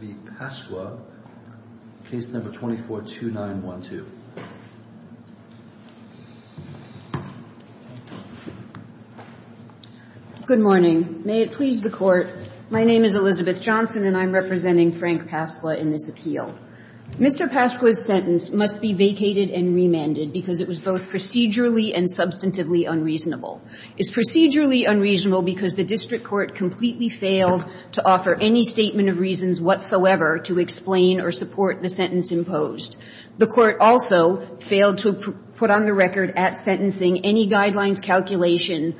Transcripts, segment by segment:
v. Pasqua, case number 242912. Good morning. May it please the Court, my name is Elizabeth Johnson, and I'm representing Frank Pasqua in this appeal. Mr. Pasqua's sentence must be vacated and remanded because it was both procedurally and substantively unreasonable. It's procedurally unreasonable because the district court completely failed to offer any statement of reasons whatsoever to explain or support the sentence imposed. The Court also failed to put on the record at sentencing any guidelines calculation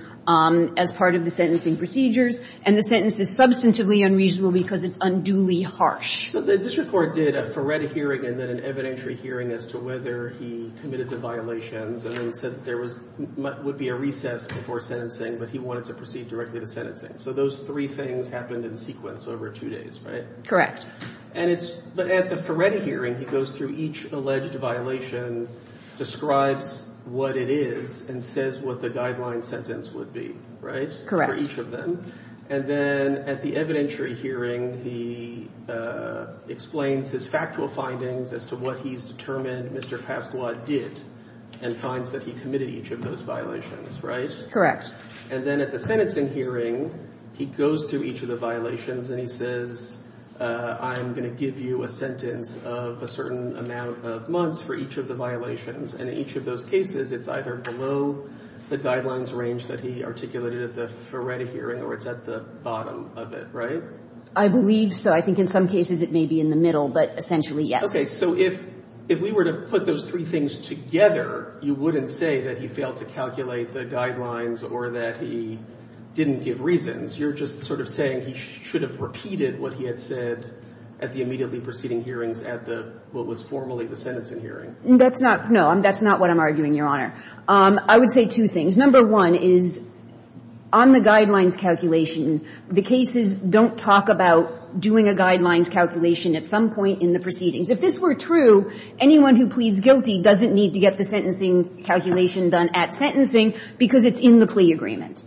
as part of the sentencing procedures, and the sentence is substantively unreasonable because it's unduly harsh. So the district court did a FARET hearing and then an evidentiary hearing as to whether he committed the violations, and then said there was – would be a recess before sentencing, but he wanted to proceed directly to sentencing. So those three things happened in sequence over two days, right? Correct. And it's – but at the FARET hearing, he goes through each alleged violation, describes what it is, and says what the guideline sentence would be, right? Correct. For each of them. And then at the evidentiary hearing, he explains his factual findings as to what he's determined Mr. Pasqua did and finds that he committed each of those violations, right? Correct. And then at the sentencing hearing, he goes through each of the violations and he says, I'm going to give you a sentence of a certain amount of months for each of the violations, and in each of those cases, it's either below the guidelines range that he articulated at the FARET hearing or it's at the bottom of it, right? I believe so. I think in some cases it may be in the middle, but essentially, yes. Okay. So if – if we were to put those three things together, you wouldn't say that he failed to calculate the guidelines or that he didn't give reasons. You're just sort of saying he should have repeated what he had said at the immediately proceeding hearings at the – what was formally the sentencing hearing. That's not – no, that's not what I'm arguing, Your Honor. I would say two things. Number one is, on the guidelines calculation, the cases don't talk about doing a guidelines calculation at some point in the proceedings. If this were true, anyone who pleads guilty doesn't need to get the sentencing calculation done at sentencing because it's in the plea agreement.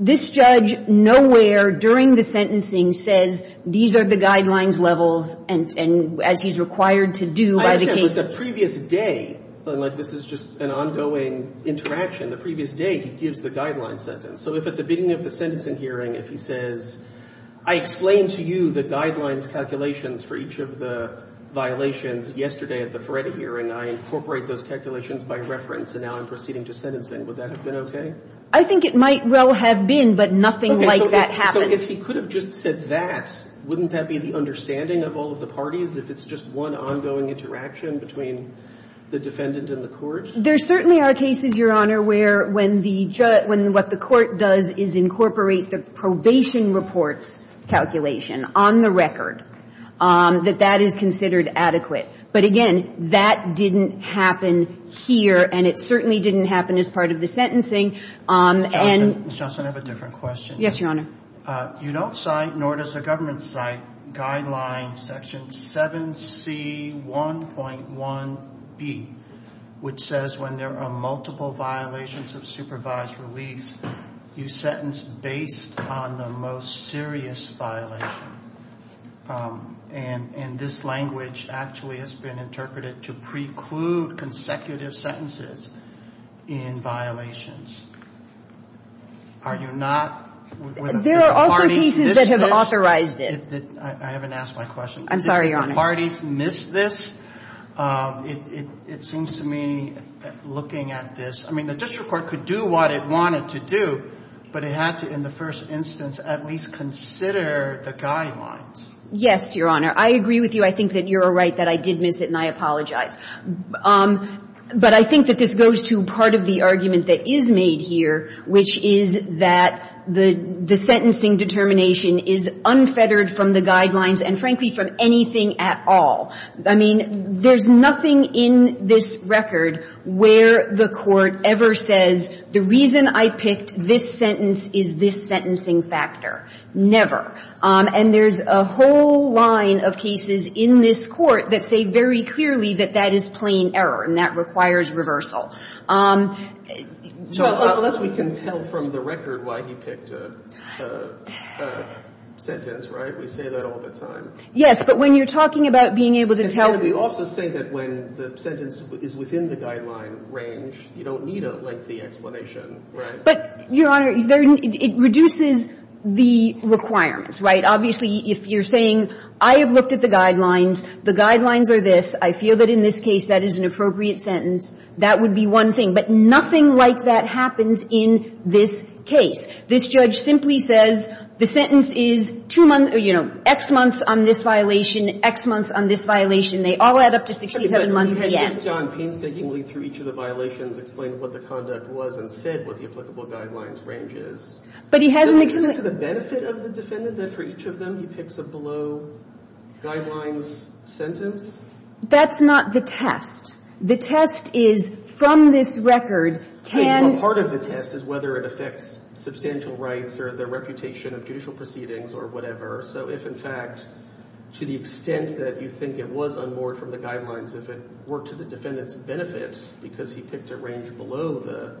This judge nowhere during the sentencing says, these are the guidelines levels and – and as he's required to do by the cases. It was the previous day, and like this is just an ongoing interaction. The previous day, he gives the guidelines sentence. So if at the beginning of the sentencing hearing, if he says, I explained to you the guidelines calculations for each of the violations yesterday at the FARET hearing, I incorporate those calculations by reference, and now I'm proceeding to sentencing, would that have been okay? I think it might well have been, but nothing like that happens. Okay. So if he could have just said that, wouldn't that be the understanding of all of the parties if it's just one ongoing interaction between the defendant and the court? There certainly are cases, Your Honor, where when the – when what the court does is incorporate the probation reports calculation on the record, that that is considered adequate. But again, that didn't happen here, and it certainly didn't happen as part of the sentencing. Ms. Johnson, I have a different question. Yes, Your Honor. You don't cite, nor does the government cite, guideline section 7C1.1b, which says when there are multiple violations of supervised release, you sentence based on the most serious violation. And this language actually has been interpreted to preclude consecutive sentences in violations. Are you not – There are also pieces that have authorized it. I haven't asked my question. I'm sorry, Your Honor. Did the parties miss this? It seems to me, looking at this, I mean, the district court could do what it wanted to do, but it had to, in the first instance, at least consider the guidelines. Yes, Your Honor. I agree with you. I think that you're right that I did miss it, and I apologize. But I think that this goes to part of the argument that is made here, which is that the sentencing determination is unfettered from the guidelines and, frankly, from anything at all. I mean, there's nothing in this record where the court ever says, the reason I picked this sentence is this sentencing factor. Never. And there's a whole line of cases in this Court that say very clearly that that is plain error and that requires reversal. Unless we can tell from the record why he picked a sentence, right? We say that all the time. Yes. But when you're talking about being able to tell. And can we also say that when the sentence is within the guideline range, you don't need a lengthy explanation, right? But, Your Honor, it reduces the requirements, right? Obviously, if you're saying, I have looked at the guidelines, the guidelines are this, I feel that in this case that is an appropriate sentence, that would be one thing. But nothing like that happens in this case. This judge simply says, the sentence is two months, or, you know, X months on this violation, X months on this violation. They all add up to 67 months at the end. But, Your Honor, he just, John, painstakingly through each of the violations explained what the conduct was and said what the applicable guidelines range is. But he hasn't explained to the benefit of the defendant that for each of them he picks a below-guidelines sentence? That's not the test. The test is, from this record, can. Part of the test is whether it affects substantial rights or the reputation of judicial proceedings or whatever. So if, in fact, to the extent that you think it was unmoored from the guidelines, if it were to the defendant's benefit because he picked a range below the,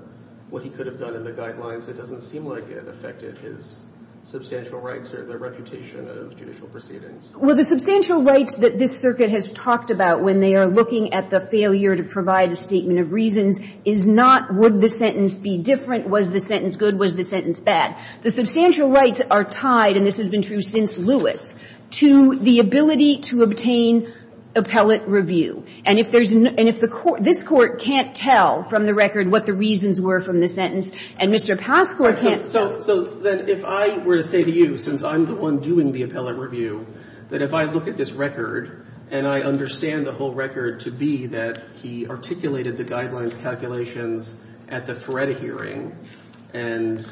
what he could have done in the guidelines, it doesn't seem like it affected his substantial rights or the reputation of judicial proceedings. Well, the substantial rights that this circuit has talked about when they are looking at the failure to provide a statement of reasons is not would the sentence be different? Was the sentence good? Was the sentence bad? The substantial rights are tied, and this has been true since Lewis, to the ability to obtain appellate review. And if there's, and if the court, this Court can't tell from the record what the reasons were from the sentence, and Mr. Pascourt can't tell. So then if I were to say to you, since I'm the one doing the appellate review, that if I look at this record and I understand the whole record to be that he articulated the guidelines calculations at the Feretta hearing, and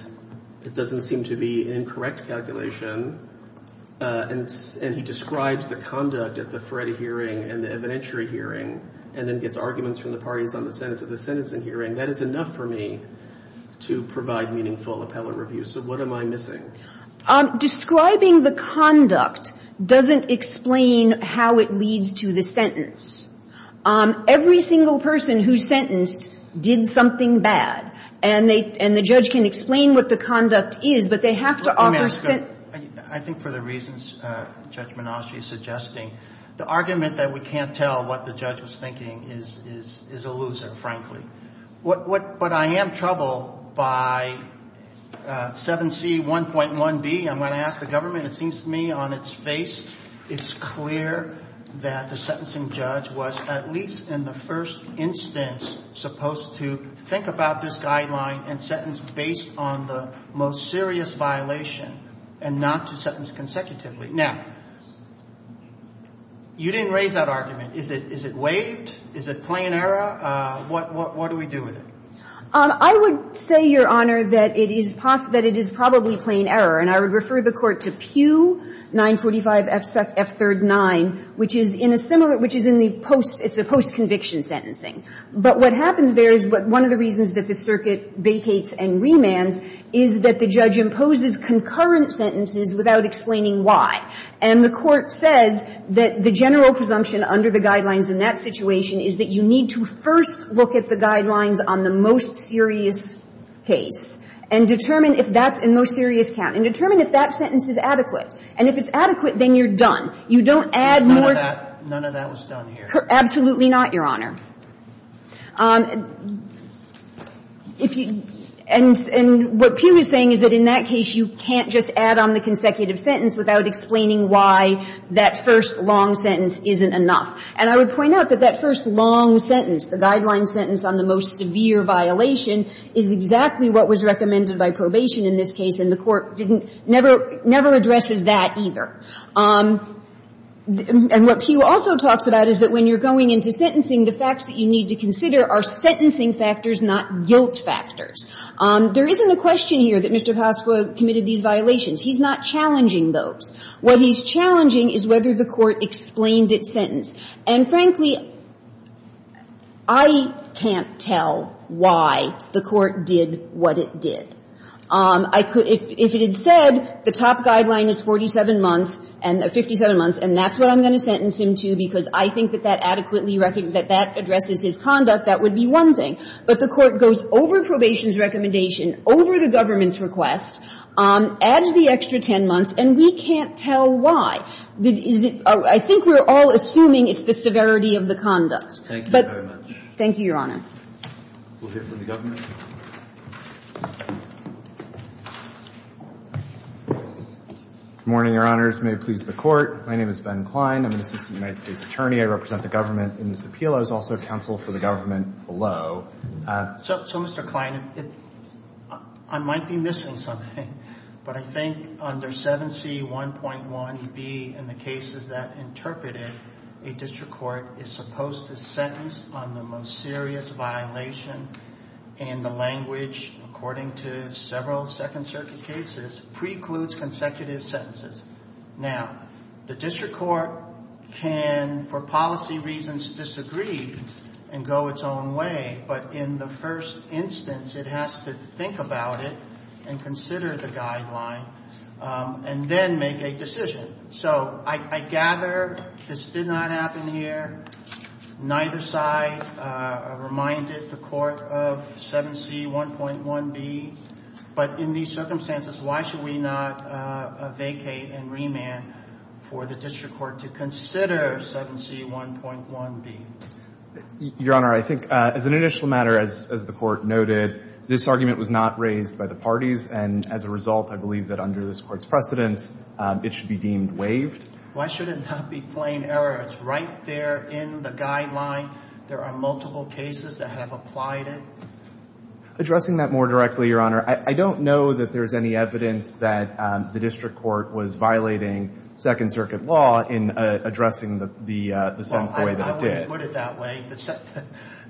it doesn't seem to be an incorrect calculation, and he describes the conduct at the Feretta hearing and the evidentiary hearing, and then gets arguments from the parties on the sentence at the sentencing hearing, that is enough for me to provide meaningful appellate review. So what am I missing? Describing the conduct doesn't explain how it leads to the sentence. Every single person who's sentenced did something bad, and they, and the judge can explain what the conduct is, but they have to offer sentence. I think for the reasons Judge Monasti is suggesting, the argument that we can't tell what the judge was thinking is a loser, frankly. What, what, but I am troubled by 7C1.1B. I'm going to ask the government. It seems to me on its face, it's clear that the sentencing judge was at least in the first instance supposed to think about this guideline and sentence based on the most serious violation and not to sentence consecutively. Now, you didn't raise that argument. Is it, is it waived? Is it plain error? What, what, what do we do with it? I would say, Your Honor, that it is possibly, that it is probably plain error. And I would refer the Court to Pew 945 F3rd 9, which is in a similar, which is in the post, it's a post-conviction sentencing. But what happens there is one of the reasons that the circuit vacates and remands is that the judge imposes concurrent sentences without explaining why. And the Court says that the general presumption under the guidelines in that situation is that you need to first look at the guidelines on the most serious case and determine if that's a most serious count, and determine if that sentence is adequate. And if it's adequate, then you're done. You don't add more to that. None of that was done here. Absolutely not, Your Honor. If you, and, and what Pew is saying is that in that case, you can't just add on the consecutive sentence without explaining why that first long sentence isn't enough. And I would point out that that first long sentence, the guideline sentence on the most severe violation, is exactly what was recommended by probation in this case, and the Court didn't, never, never addresses that either. And what Pew also talks about is that when you're going into sentencing, the facts that you need to consider are sentencing factors, not guilt factors. There isn't a question here that Mr. Pasqua committed these violations. He's not challenging those. What he's challenging is whether the Court explained its sentence. And frankly, I can't tell why the Court did what it did. I could, if it had said the top guideline is 47 months and, 57 months, and that's what I'm going to sentence him to because I think that that adequately, that that addresses his conduct, that would be one thing. But the Court goes over probation's recommendation, over the government's request, adds the extra 10 months, and we can't tell why. Is it, I think we're all assuming it's the severity of the conduct. But, thank you, Your Honor. Roberts. Good morning, Your Honors. May it please the Court. My name is Ben Klein. I'm an assistant United States attorney. I represent the government in this appeal. I was also counsel for the government below. So, Mr. Klein, I might be missing something, but I think under 7C1.1B and the cases that interpreted, a district court is supposed to sentence on the most serious violation and the language, according to several Second Circuit cases, precludes consecutive sentences. Now, the district court can, for policy reasons, disagree and go its own way. But in the first instance, it has to think about it and consider the guideline and then make a decision. So, I gather this did not happen here. Neither side reminded the Court of 7C1.1B. But in these circumstances, why should we not vacate and remand for the district court to consider 7C1.1B? Your Honor, I think as an initial matter, as the Court noted, this argument was not raised by the parties. And as a result, I believe that under this Court's precedence, it should be deemed waived. Why should it not be plain error? It's right there in the guideline. There are multiple cases that have applied it. Addressing that more directly, Your Honor, I don't know that there's any evidence that the district court was violating Second Circuit law in addressing the sentence the way that it did. I wouldn't put it that way.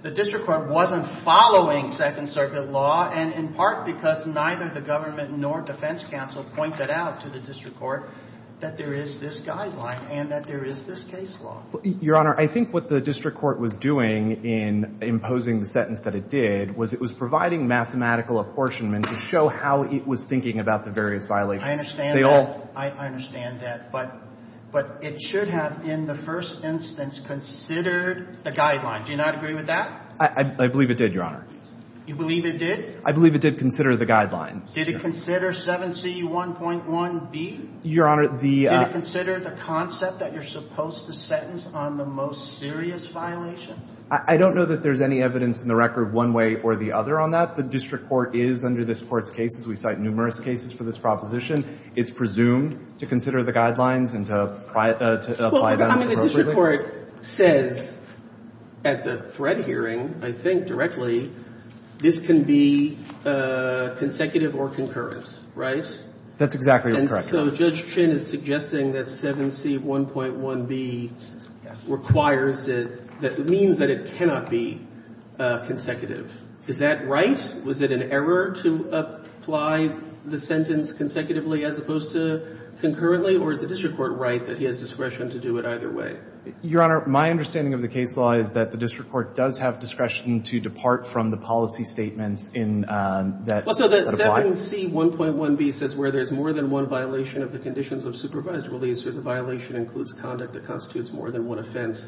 The district court wasn't following Second Circuit law. And in part, because neither the government nor defense counsel pointed out to the district court that there is this guideline and that there is this case law. Your Honor, I think what the district court was doing in imposing the sentence that it did was it was providing mathematical apportionment to show how it was thinking about the various violations. I understand that. I understand that. But it should have, in the first instance, considered the guideline. Do you not agree with that? I believe it did, Your Honor. You believe it did? I believe it did consider the guidelines. Did it consider 7C1.1b? Your Honor, the — Did it consider the concept that you're supposed to sentence on the most serious violation? I don't know that there's any evidence in the record one way or the other on that. The district court is, under this Court's cases, we cite numerous cases for this proposition. It's presumed to consider the guidelines and to apply them appropriately. Well, I mean, the district court says at the threat hearing, I think directly, this can be consecutive or concurrent, right? That's exactly correct. And so Judge Chin is suggesting that 7C1.1b requires it, that means that it cannot be consecutive. Is that right? Was it an error to apply the sentence consecutively as opposed to concurrently? Or is the district court right that he has discretion to do it either way? Your Honor, my understanding of the case law is that the district court does have discretion to depart from the policy statements in that — Well, so that 7C1.1b says where there's more than one violation of the conditions of supervised release or the violation includes conduct that constitutes more than one offense,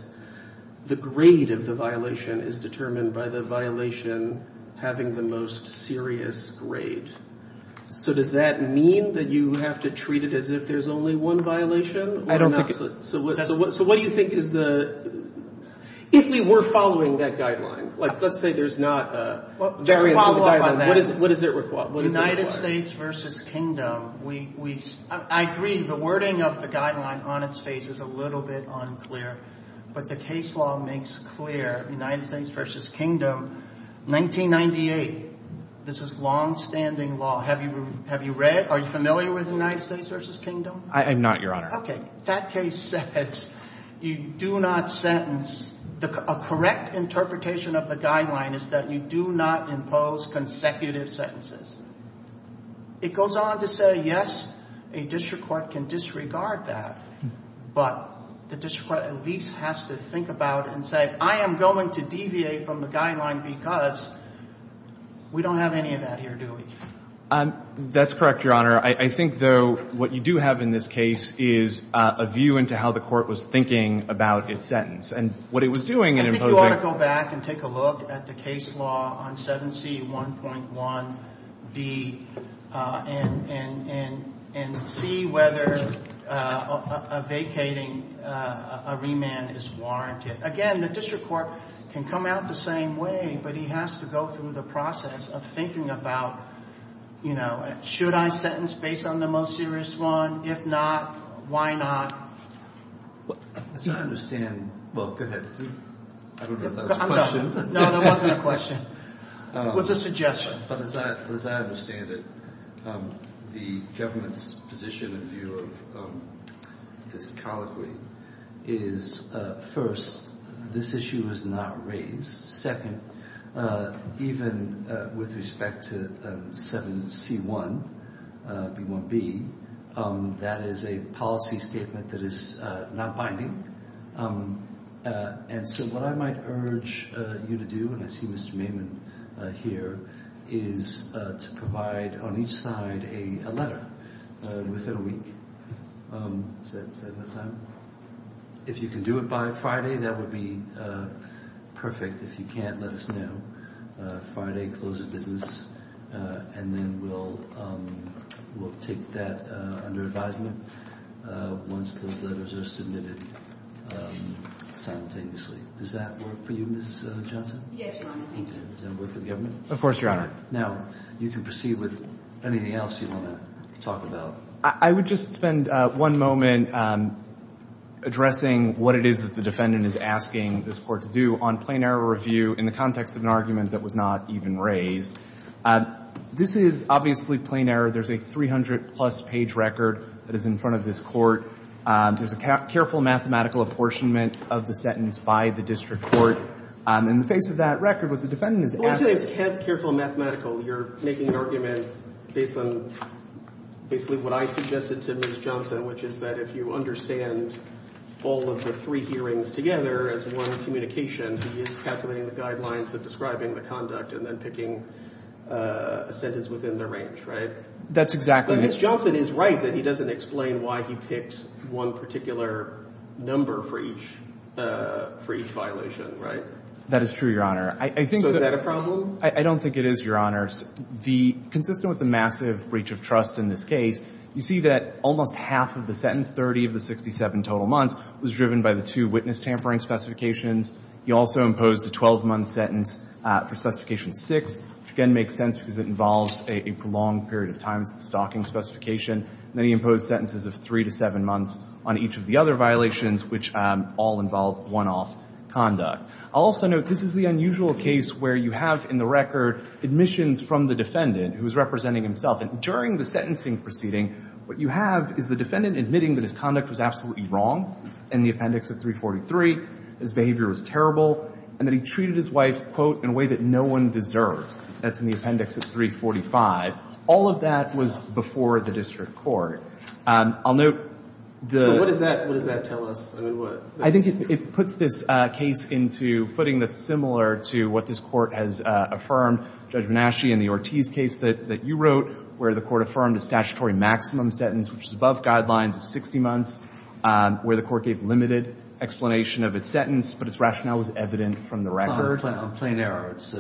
the grade of the violation is determined by the violation having the most serious grade. So does that mean that you have to treat it as if there's only one violation? I don't think — So what do you think is the — if we were following that guideline, like, let's say there's not a variance in the guideline, what does it require? United States versus Kingdom, we — I agree, the wording of the guideline on its face is a little bit unclear, but the case law makes clear United States versus Kingdom, 1998, this is longstanding law. Have you read — are you familiar with United States versus Kingdom? I'm not, Your Honor. Okay. That case says you do not sentence — a correct interpretation of the guideline is that you do not impose consecutive sentences. It goes on to say, yes, a district court can disregard that, but the district court at least has to think about it and say, I am going to deviate from the guideline because we don't have any of that here, do we? That's correct, Your Honor. I think, though, what you do have in this case is a view into how the court was thinking about its sentence. And what it was doing in imposing — I think you ought to go back and take a look at the case law on 7C1.1B and see whether a vacating — a remand is warranted. Again, the district court can come out the same way, but he has to go through the process of thinking about, you know, should I sentence based on the most serious one? If not, why not? As I understand — well, go ahead. I don't know if that was a question. No, that wasn't a question. It was a suggestion. But as I understand it, the government's position and view of this colloquy is, first, this issue is not raised. Second, even with respect to 7C1.1B, that is a policy statement that is not binding. And so what I might urge you to do, and I see Mr. Maimon here, is to provide on each side a letter within a week. Is that enough time? If you can do it by Friday, that would be perfect. If you can't, let us know. Friday, close of business, and then we'll take that under advisement once those letters are submitted simultaneously. Does that work for you, Ms. Johnson? Yes, Your Honor. Thank you. Does that work for the government? Of course, Your Honor. Now, you can proceed with anything else you want to talk about. I would just spend one moment addressing what it is that the defendant is asking this Court to do on plain error review in the context of an argument that was not even raised. This is obviously plain error. There's a 300-plus page record that is in front of this Court. There's a careful mathematical apportionment of the sentence by the district court. In the face of that record, what the defendant is asking you to do is to make an argument based on basically what I suggested to Ms. Johnson, which is that if you understand all of the three hearings together as one communication, he is calculating the guidelines of describing the conduct and then picking a sentence within the range, right? That's exactly right. Ms. Johnson is right that he doesn't explain why he picked one particular number for each violation, right? That is true, Your Honor. So is that a problem? I don't think it is, Your Honor. Consistent with the massive breach of trust in this case, you see that almost half of the sentence, 30 of the 67 total months, was driven by the two witness tampering specifications. You also imposed a 12-month sentence for Specification 6, which again makes sense because it involves a prolonged period of time stocking specification. And then you impose sentences of three to seven months on each of the other violations, which all involve one-off conduct. I'll also note this is the unusual case where you have in the record admissions from the defendant, who is representing himself. And during the sentencing proceeding, what you have is the defendant admitting that his conduct was absolutely wrong in the Appendix of 343, his behavior was terrible, and that he treated his wife, quote, in a way that no one deserves. That's in the Appendix of 345. All of that was before the district court. I'll note the — But what does that tell us? I mean, what — I think it puts this case into footing that's similar to what this Court has affirmed, Judge Bonacci, in the Ortiz case that you wrote, where the Court affirmed a statutory maximum sentence, which is above guidelines of 60 months, where the Court gave limited explanation of its sentence, but its rationale was evident from the record. On plain error, it's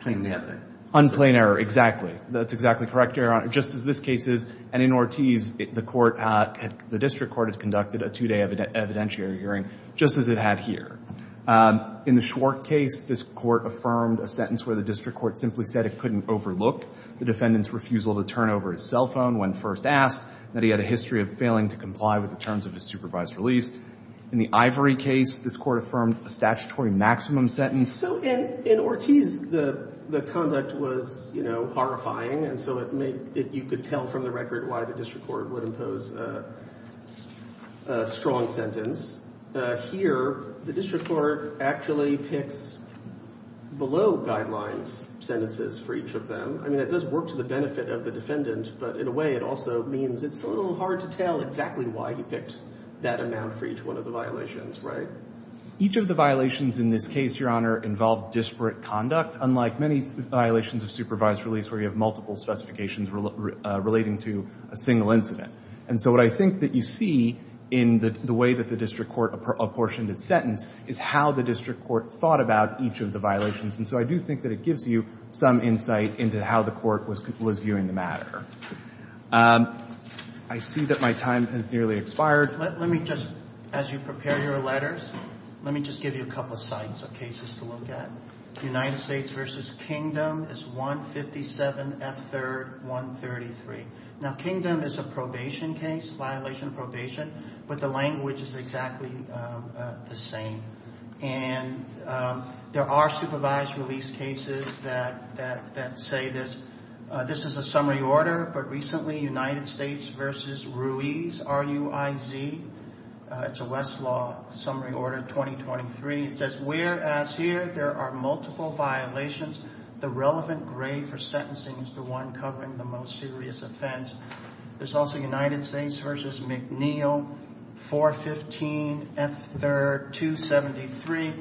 plainly evident. On plain error, exactly. That's exactly correct, Your Honor. Just as this case is. And in Ortiz, the court — the district court has conducted a two-day evidentiary hearing, just as it had here. In the Schwartz case, this Court affirmed a sentence where the district court simply said it couldn't overlook the defendant's refusal to turn over his cell phone when first asked, that he had a history of failing to comply with the terms of his supervised release. In the Ivory case, this Court affirmed a statutory maximum sentence. So in — in Ortiz, the — the conduct was, you know, horrifying. And so it made — it — you could tell from the record why the district court would impose a — a strong sentence. Here, the district court actually picks below-guidelines sentences for each of them. I mean, it does work to the benefit of the defendant, but in a way, it also means it's a little hard to tell exactly why he picked that amount for each one of the violations, right? Each of the violations in this case, Your Honor, involved disparate conduct, unlike many violations of supervised release where you have multiple specifications relating to a single incident. And so what I think that you see in the way that the district court apportioned its sentence is how the district court thought about each of the violations. And so I do think that it gives you some insight into how the court was — was viewing the matter. I see that my time has nearly expired. Let — let me just — as you prepare your letters, let me just give you a couple sites of cases to look at. United States v. Kingdom is 157 F. 3rd, 133. Now, Kingdom is a probation case, violation of probation, but the language is exactly the same. And there are supervised release cases that — that — that say this — this is a summary order, but recently United States v. Ruiz, R-U-I-Z. It's a Westlaw summary order, 2023. It says whereas here there are multiple violations, the relevant grade for sentencing is the one covering the most serious offense. There's also United States v. McNeil, 415 F. 3rd, 273.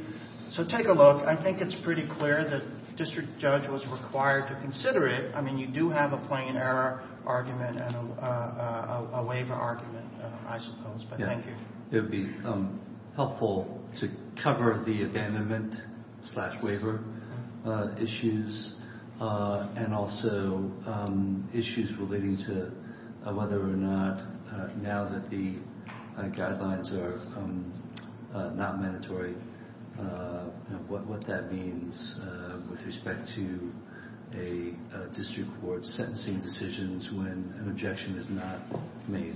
So take a look. I think it's pretty clear the district judge was required to consider it. I mean, you do have a plain error argument and a waiver argument, I suppose, but thank you. Yeah. It would be helpful to cover the abandonment slash waiver issues and also issues relating to whether or not, now that the guidelines are not mandatory, what that means with respect to a district court sentencing decisions when an objection is not made.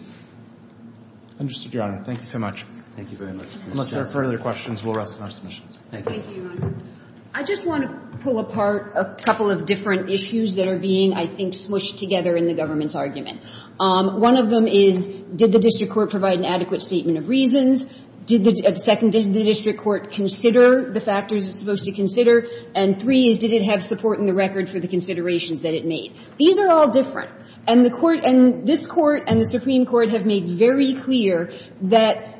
I understand, Your Honor. Thank you so much. Thank you very much. Unless there are further questions, we'll rest on our submissions. Thank you. Thank you, Your Honor. I just want to pull apart a couple of different issues that are being, I think, smushed together in the government's argument. One of them is did the district court provide an adequate statement of reasons? Second, did the district court consider the factors it's supposed to consider? And three is did it have support in the record for the considerations that it made? These are all different. And the Court and this Court and the Supreme Court have made very clear that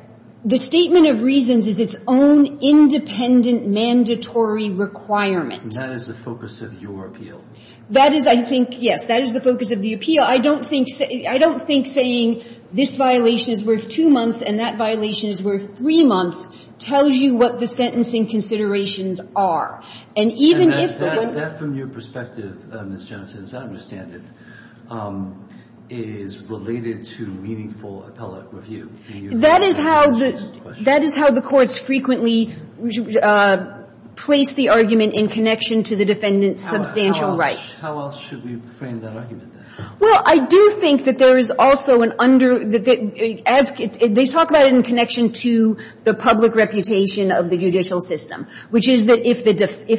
the statement of reasons is its own independent mandatory requirement. And that is the focus of your appeal. That is, I think, yes. That is the focus of the appeal. I don't think saying this violation is worth two months and that violation is worth three months tells you what the sentencing considerations are. And even if the one- And that, from your perspective, Ms. Johnson, as I understand it, is related to meaningful appellate review. In your view- That is how the Court's frequently placed the argument in connection to the defendant's substantial rights. How else should we frame that argument, then? Well, I do think that there is also an under- They talk about it in connection to the public reputation of the judicial system, which is that if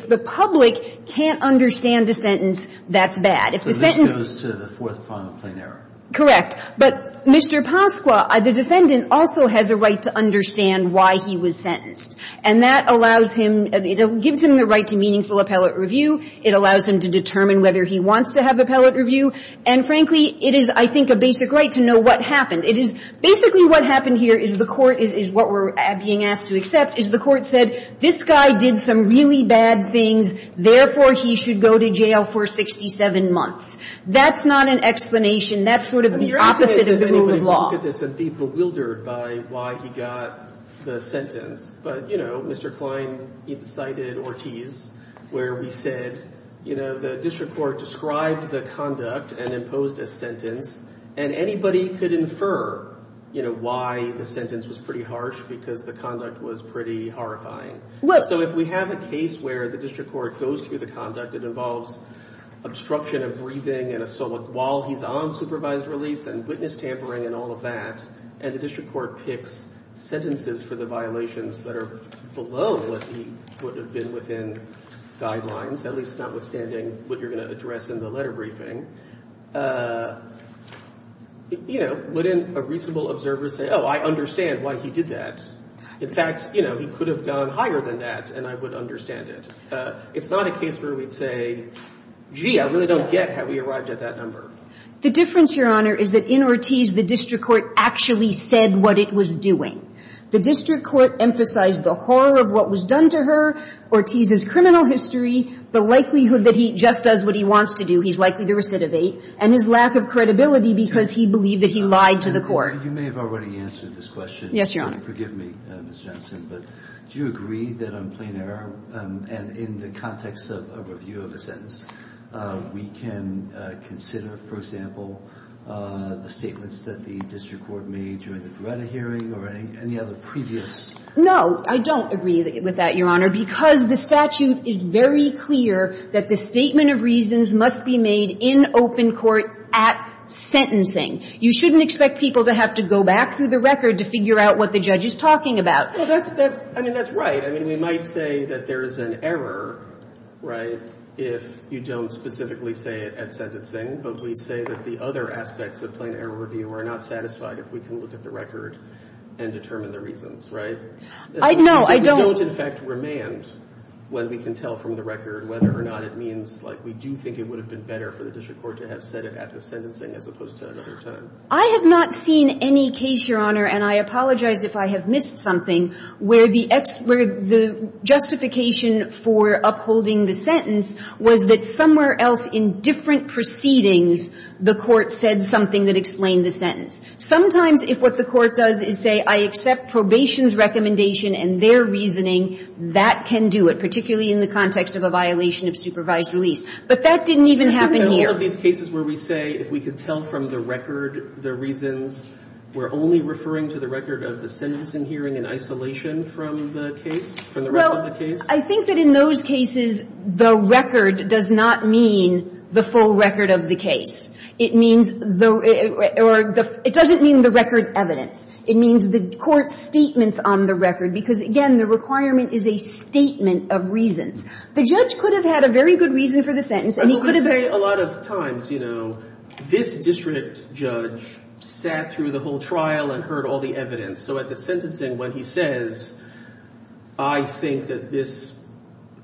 the public can't understand a sentence, that's bad. If the sentence- So this goes to the fourth point of plain error. Correct. But Mr. Pasqua, the defendant also has a right to understand why he was sentenced. And that allows him, it gives him the right to meaningful appellate review. It allows him to determine whether he wants to have appellate review. And, frankly, it is, I think, a basic right to know what happened. It is basically what happened here is the Court, is what we're being asked to accept, is the Court said, this guy did some really bad things, therefore, he should go to jail for 67 months. That's not an explanation. That's sort of the opposite of the rule of law. I mean, you're optimistic that anybody would look at this and be bewildered by why he got the sentence. But, you know, Mr. Klein cited Ortiz, where we said, you know, the district court described the conduct and imposed a sentence. And anybody could infer, you know, why the sentence was pretty harsh because the conduct was pretty horrifying. So if we have a case where the district court goes through the conduct, it involves obstruction of breathing and a stomach wall. He's on supervised release and witness tampering and all of that. And the district court picks sentences for the violations that are below what he would have been within guidelines, at least notwithstanding what you're going to address in the letter briefing. You know, wouldn't a reasonable observer say, oh, I understand why he did that. In fact, you know, he could have gone higher than that and I would understand it. It's not a case where we'd say, gee, I really don't get how he arrived at that number. The difference, Your Honor, is that in Ortiz, the district court actually said what it was doing. The district court emphasized the horror of what was done to her, Ortiz's criminal history, the likelihood that he just does what he wants to do, he's likely to recidivate, and his lack of credibility because he believed that he lied to the court. You may have already answered this question. Yes, Your Honor. Forgive me, Ms. Johnson, but do you agree that on plain error and in the context of a review of a sentence, we can consider, for example, the statements that the district court made during the Beretta hearing or any other previous? No, I don't agree with that, Your Honor, because the statute is very clear that the statement of reasons must be made in open court at sentencing. You shouldn't expect people to have to go back through the record to figure out what the judge is talking about. Well, that's right. I mean, we might say that there is an error, right, if you don't specifically say it at sentencing, but we say that the other aspects of plain error review are not satisfied if we can look at the record and determine the reasons, right? No, I don't. We don't, in fact, remand when we can tell from the record whether or not it means like we do think it would have been better for the district court to have said it at the sentencing as opposed to another time. I have not seen any case, Your Honor, and I apologize if I have missed something, where the justification for upholding the sentence was that somewhere else in different proceedings the court said something that explained the sentence. Sometimes if what the court does is say I accept probation's recommendation and their reasoning, that can do it, particularly in the context of a violation of supervised release. But that didn't even happen here. Isn't there a lot of these cases where we say if we could tell from the record the reasons, we're only referring to the record of the sentencing hearing in isolation from the case, from the rest of the case? Well, I think that in those cases the record does not mean the full record of the case. It means the or it doesn't mean the record evidence. It means the court's statements on the record, because, again, the requirement is a statement of reasons. The judge could have had a very good reason for the sentence and he could have very But a lot of times, you know, this district judge sat through the whole trial and heard all the evidence. So at the sentencing when he says, I think that this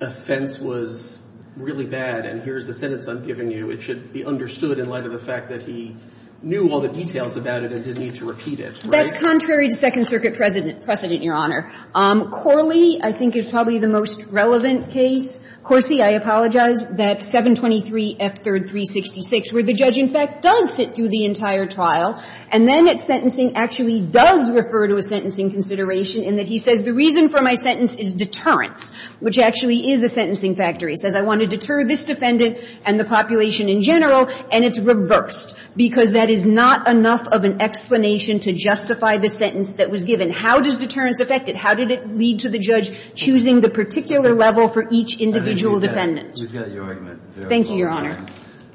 offense was really bad and here's the sentence I'm giving you, it should be understood in light of the fact that he knew all the details about it and didn't need to repeat it, right? That's contrary to Second Circuit precedent, Your Honor. Corley I think is probably the most relevant case. Corsi, I apologize, that 723F3366 where the judge, in fact, does sit through the entire trial and then at sentencing actually does refer to a sentencing consideration in that he says the reason for my sentence is deterrence, which actually is a sentencing factor. He says I want to deter this defendant and the population in general, and it's reversed because that is not enough of an explanation to justify the sentence that was given. How does deterrence affect it? How did it lead to the judge choosing the particular level for each individual defendant? Thank you, Your Honor.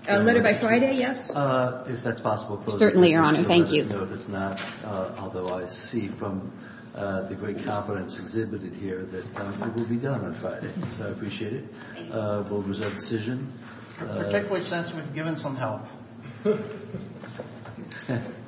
A letter by Friday, yes? If that's possible. Certainly, Your Honor. Thank you. Although I see from the great confidence exhibited here that it will be done on Friday. So I appreciate it. We'll reserve the decision. I take it we've given some help.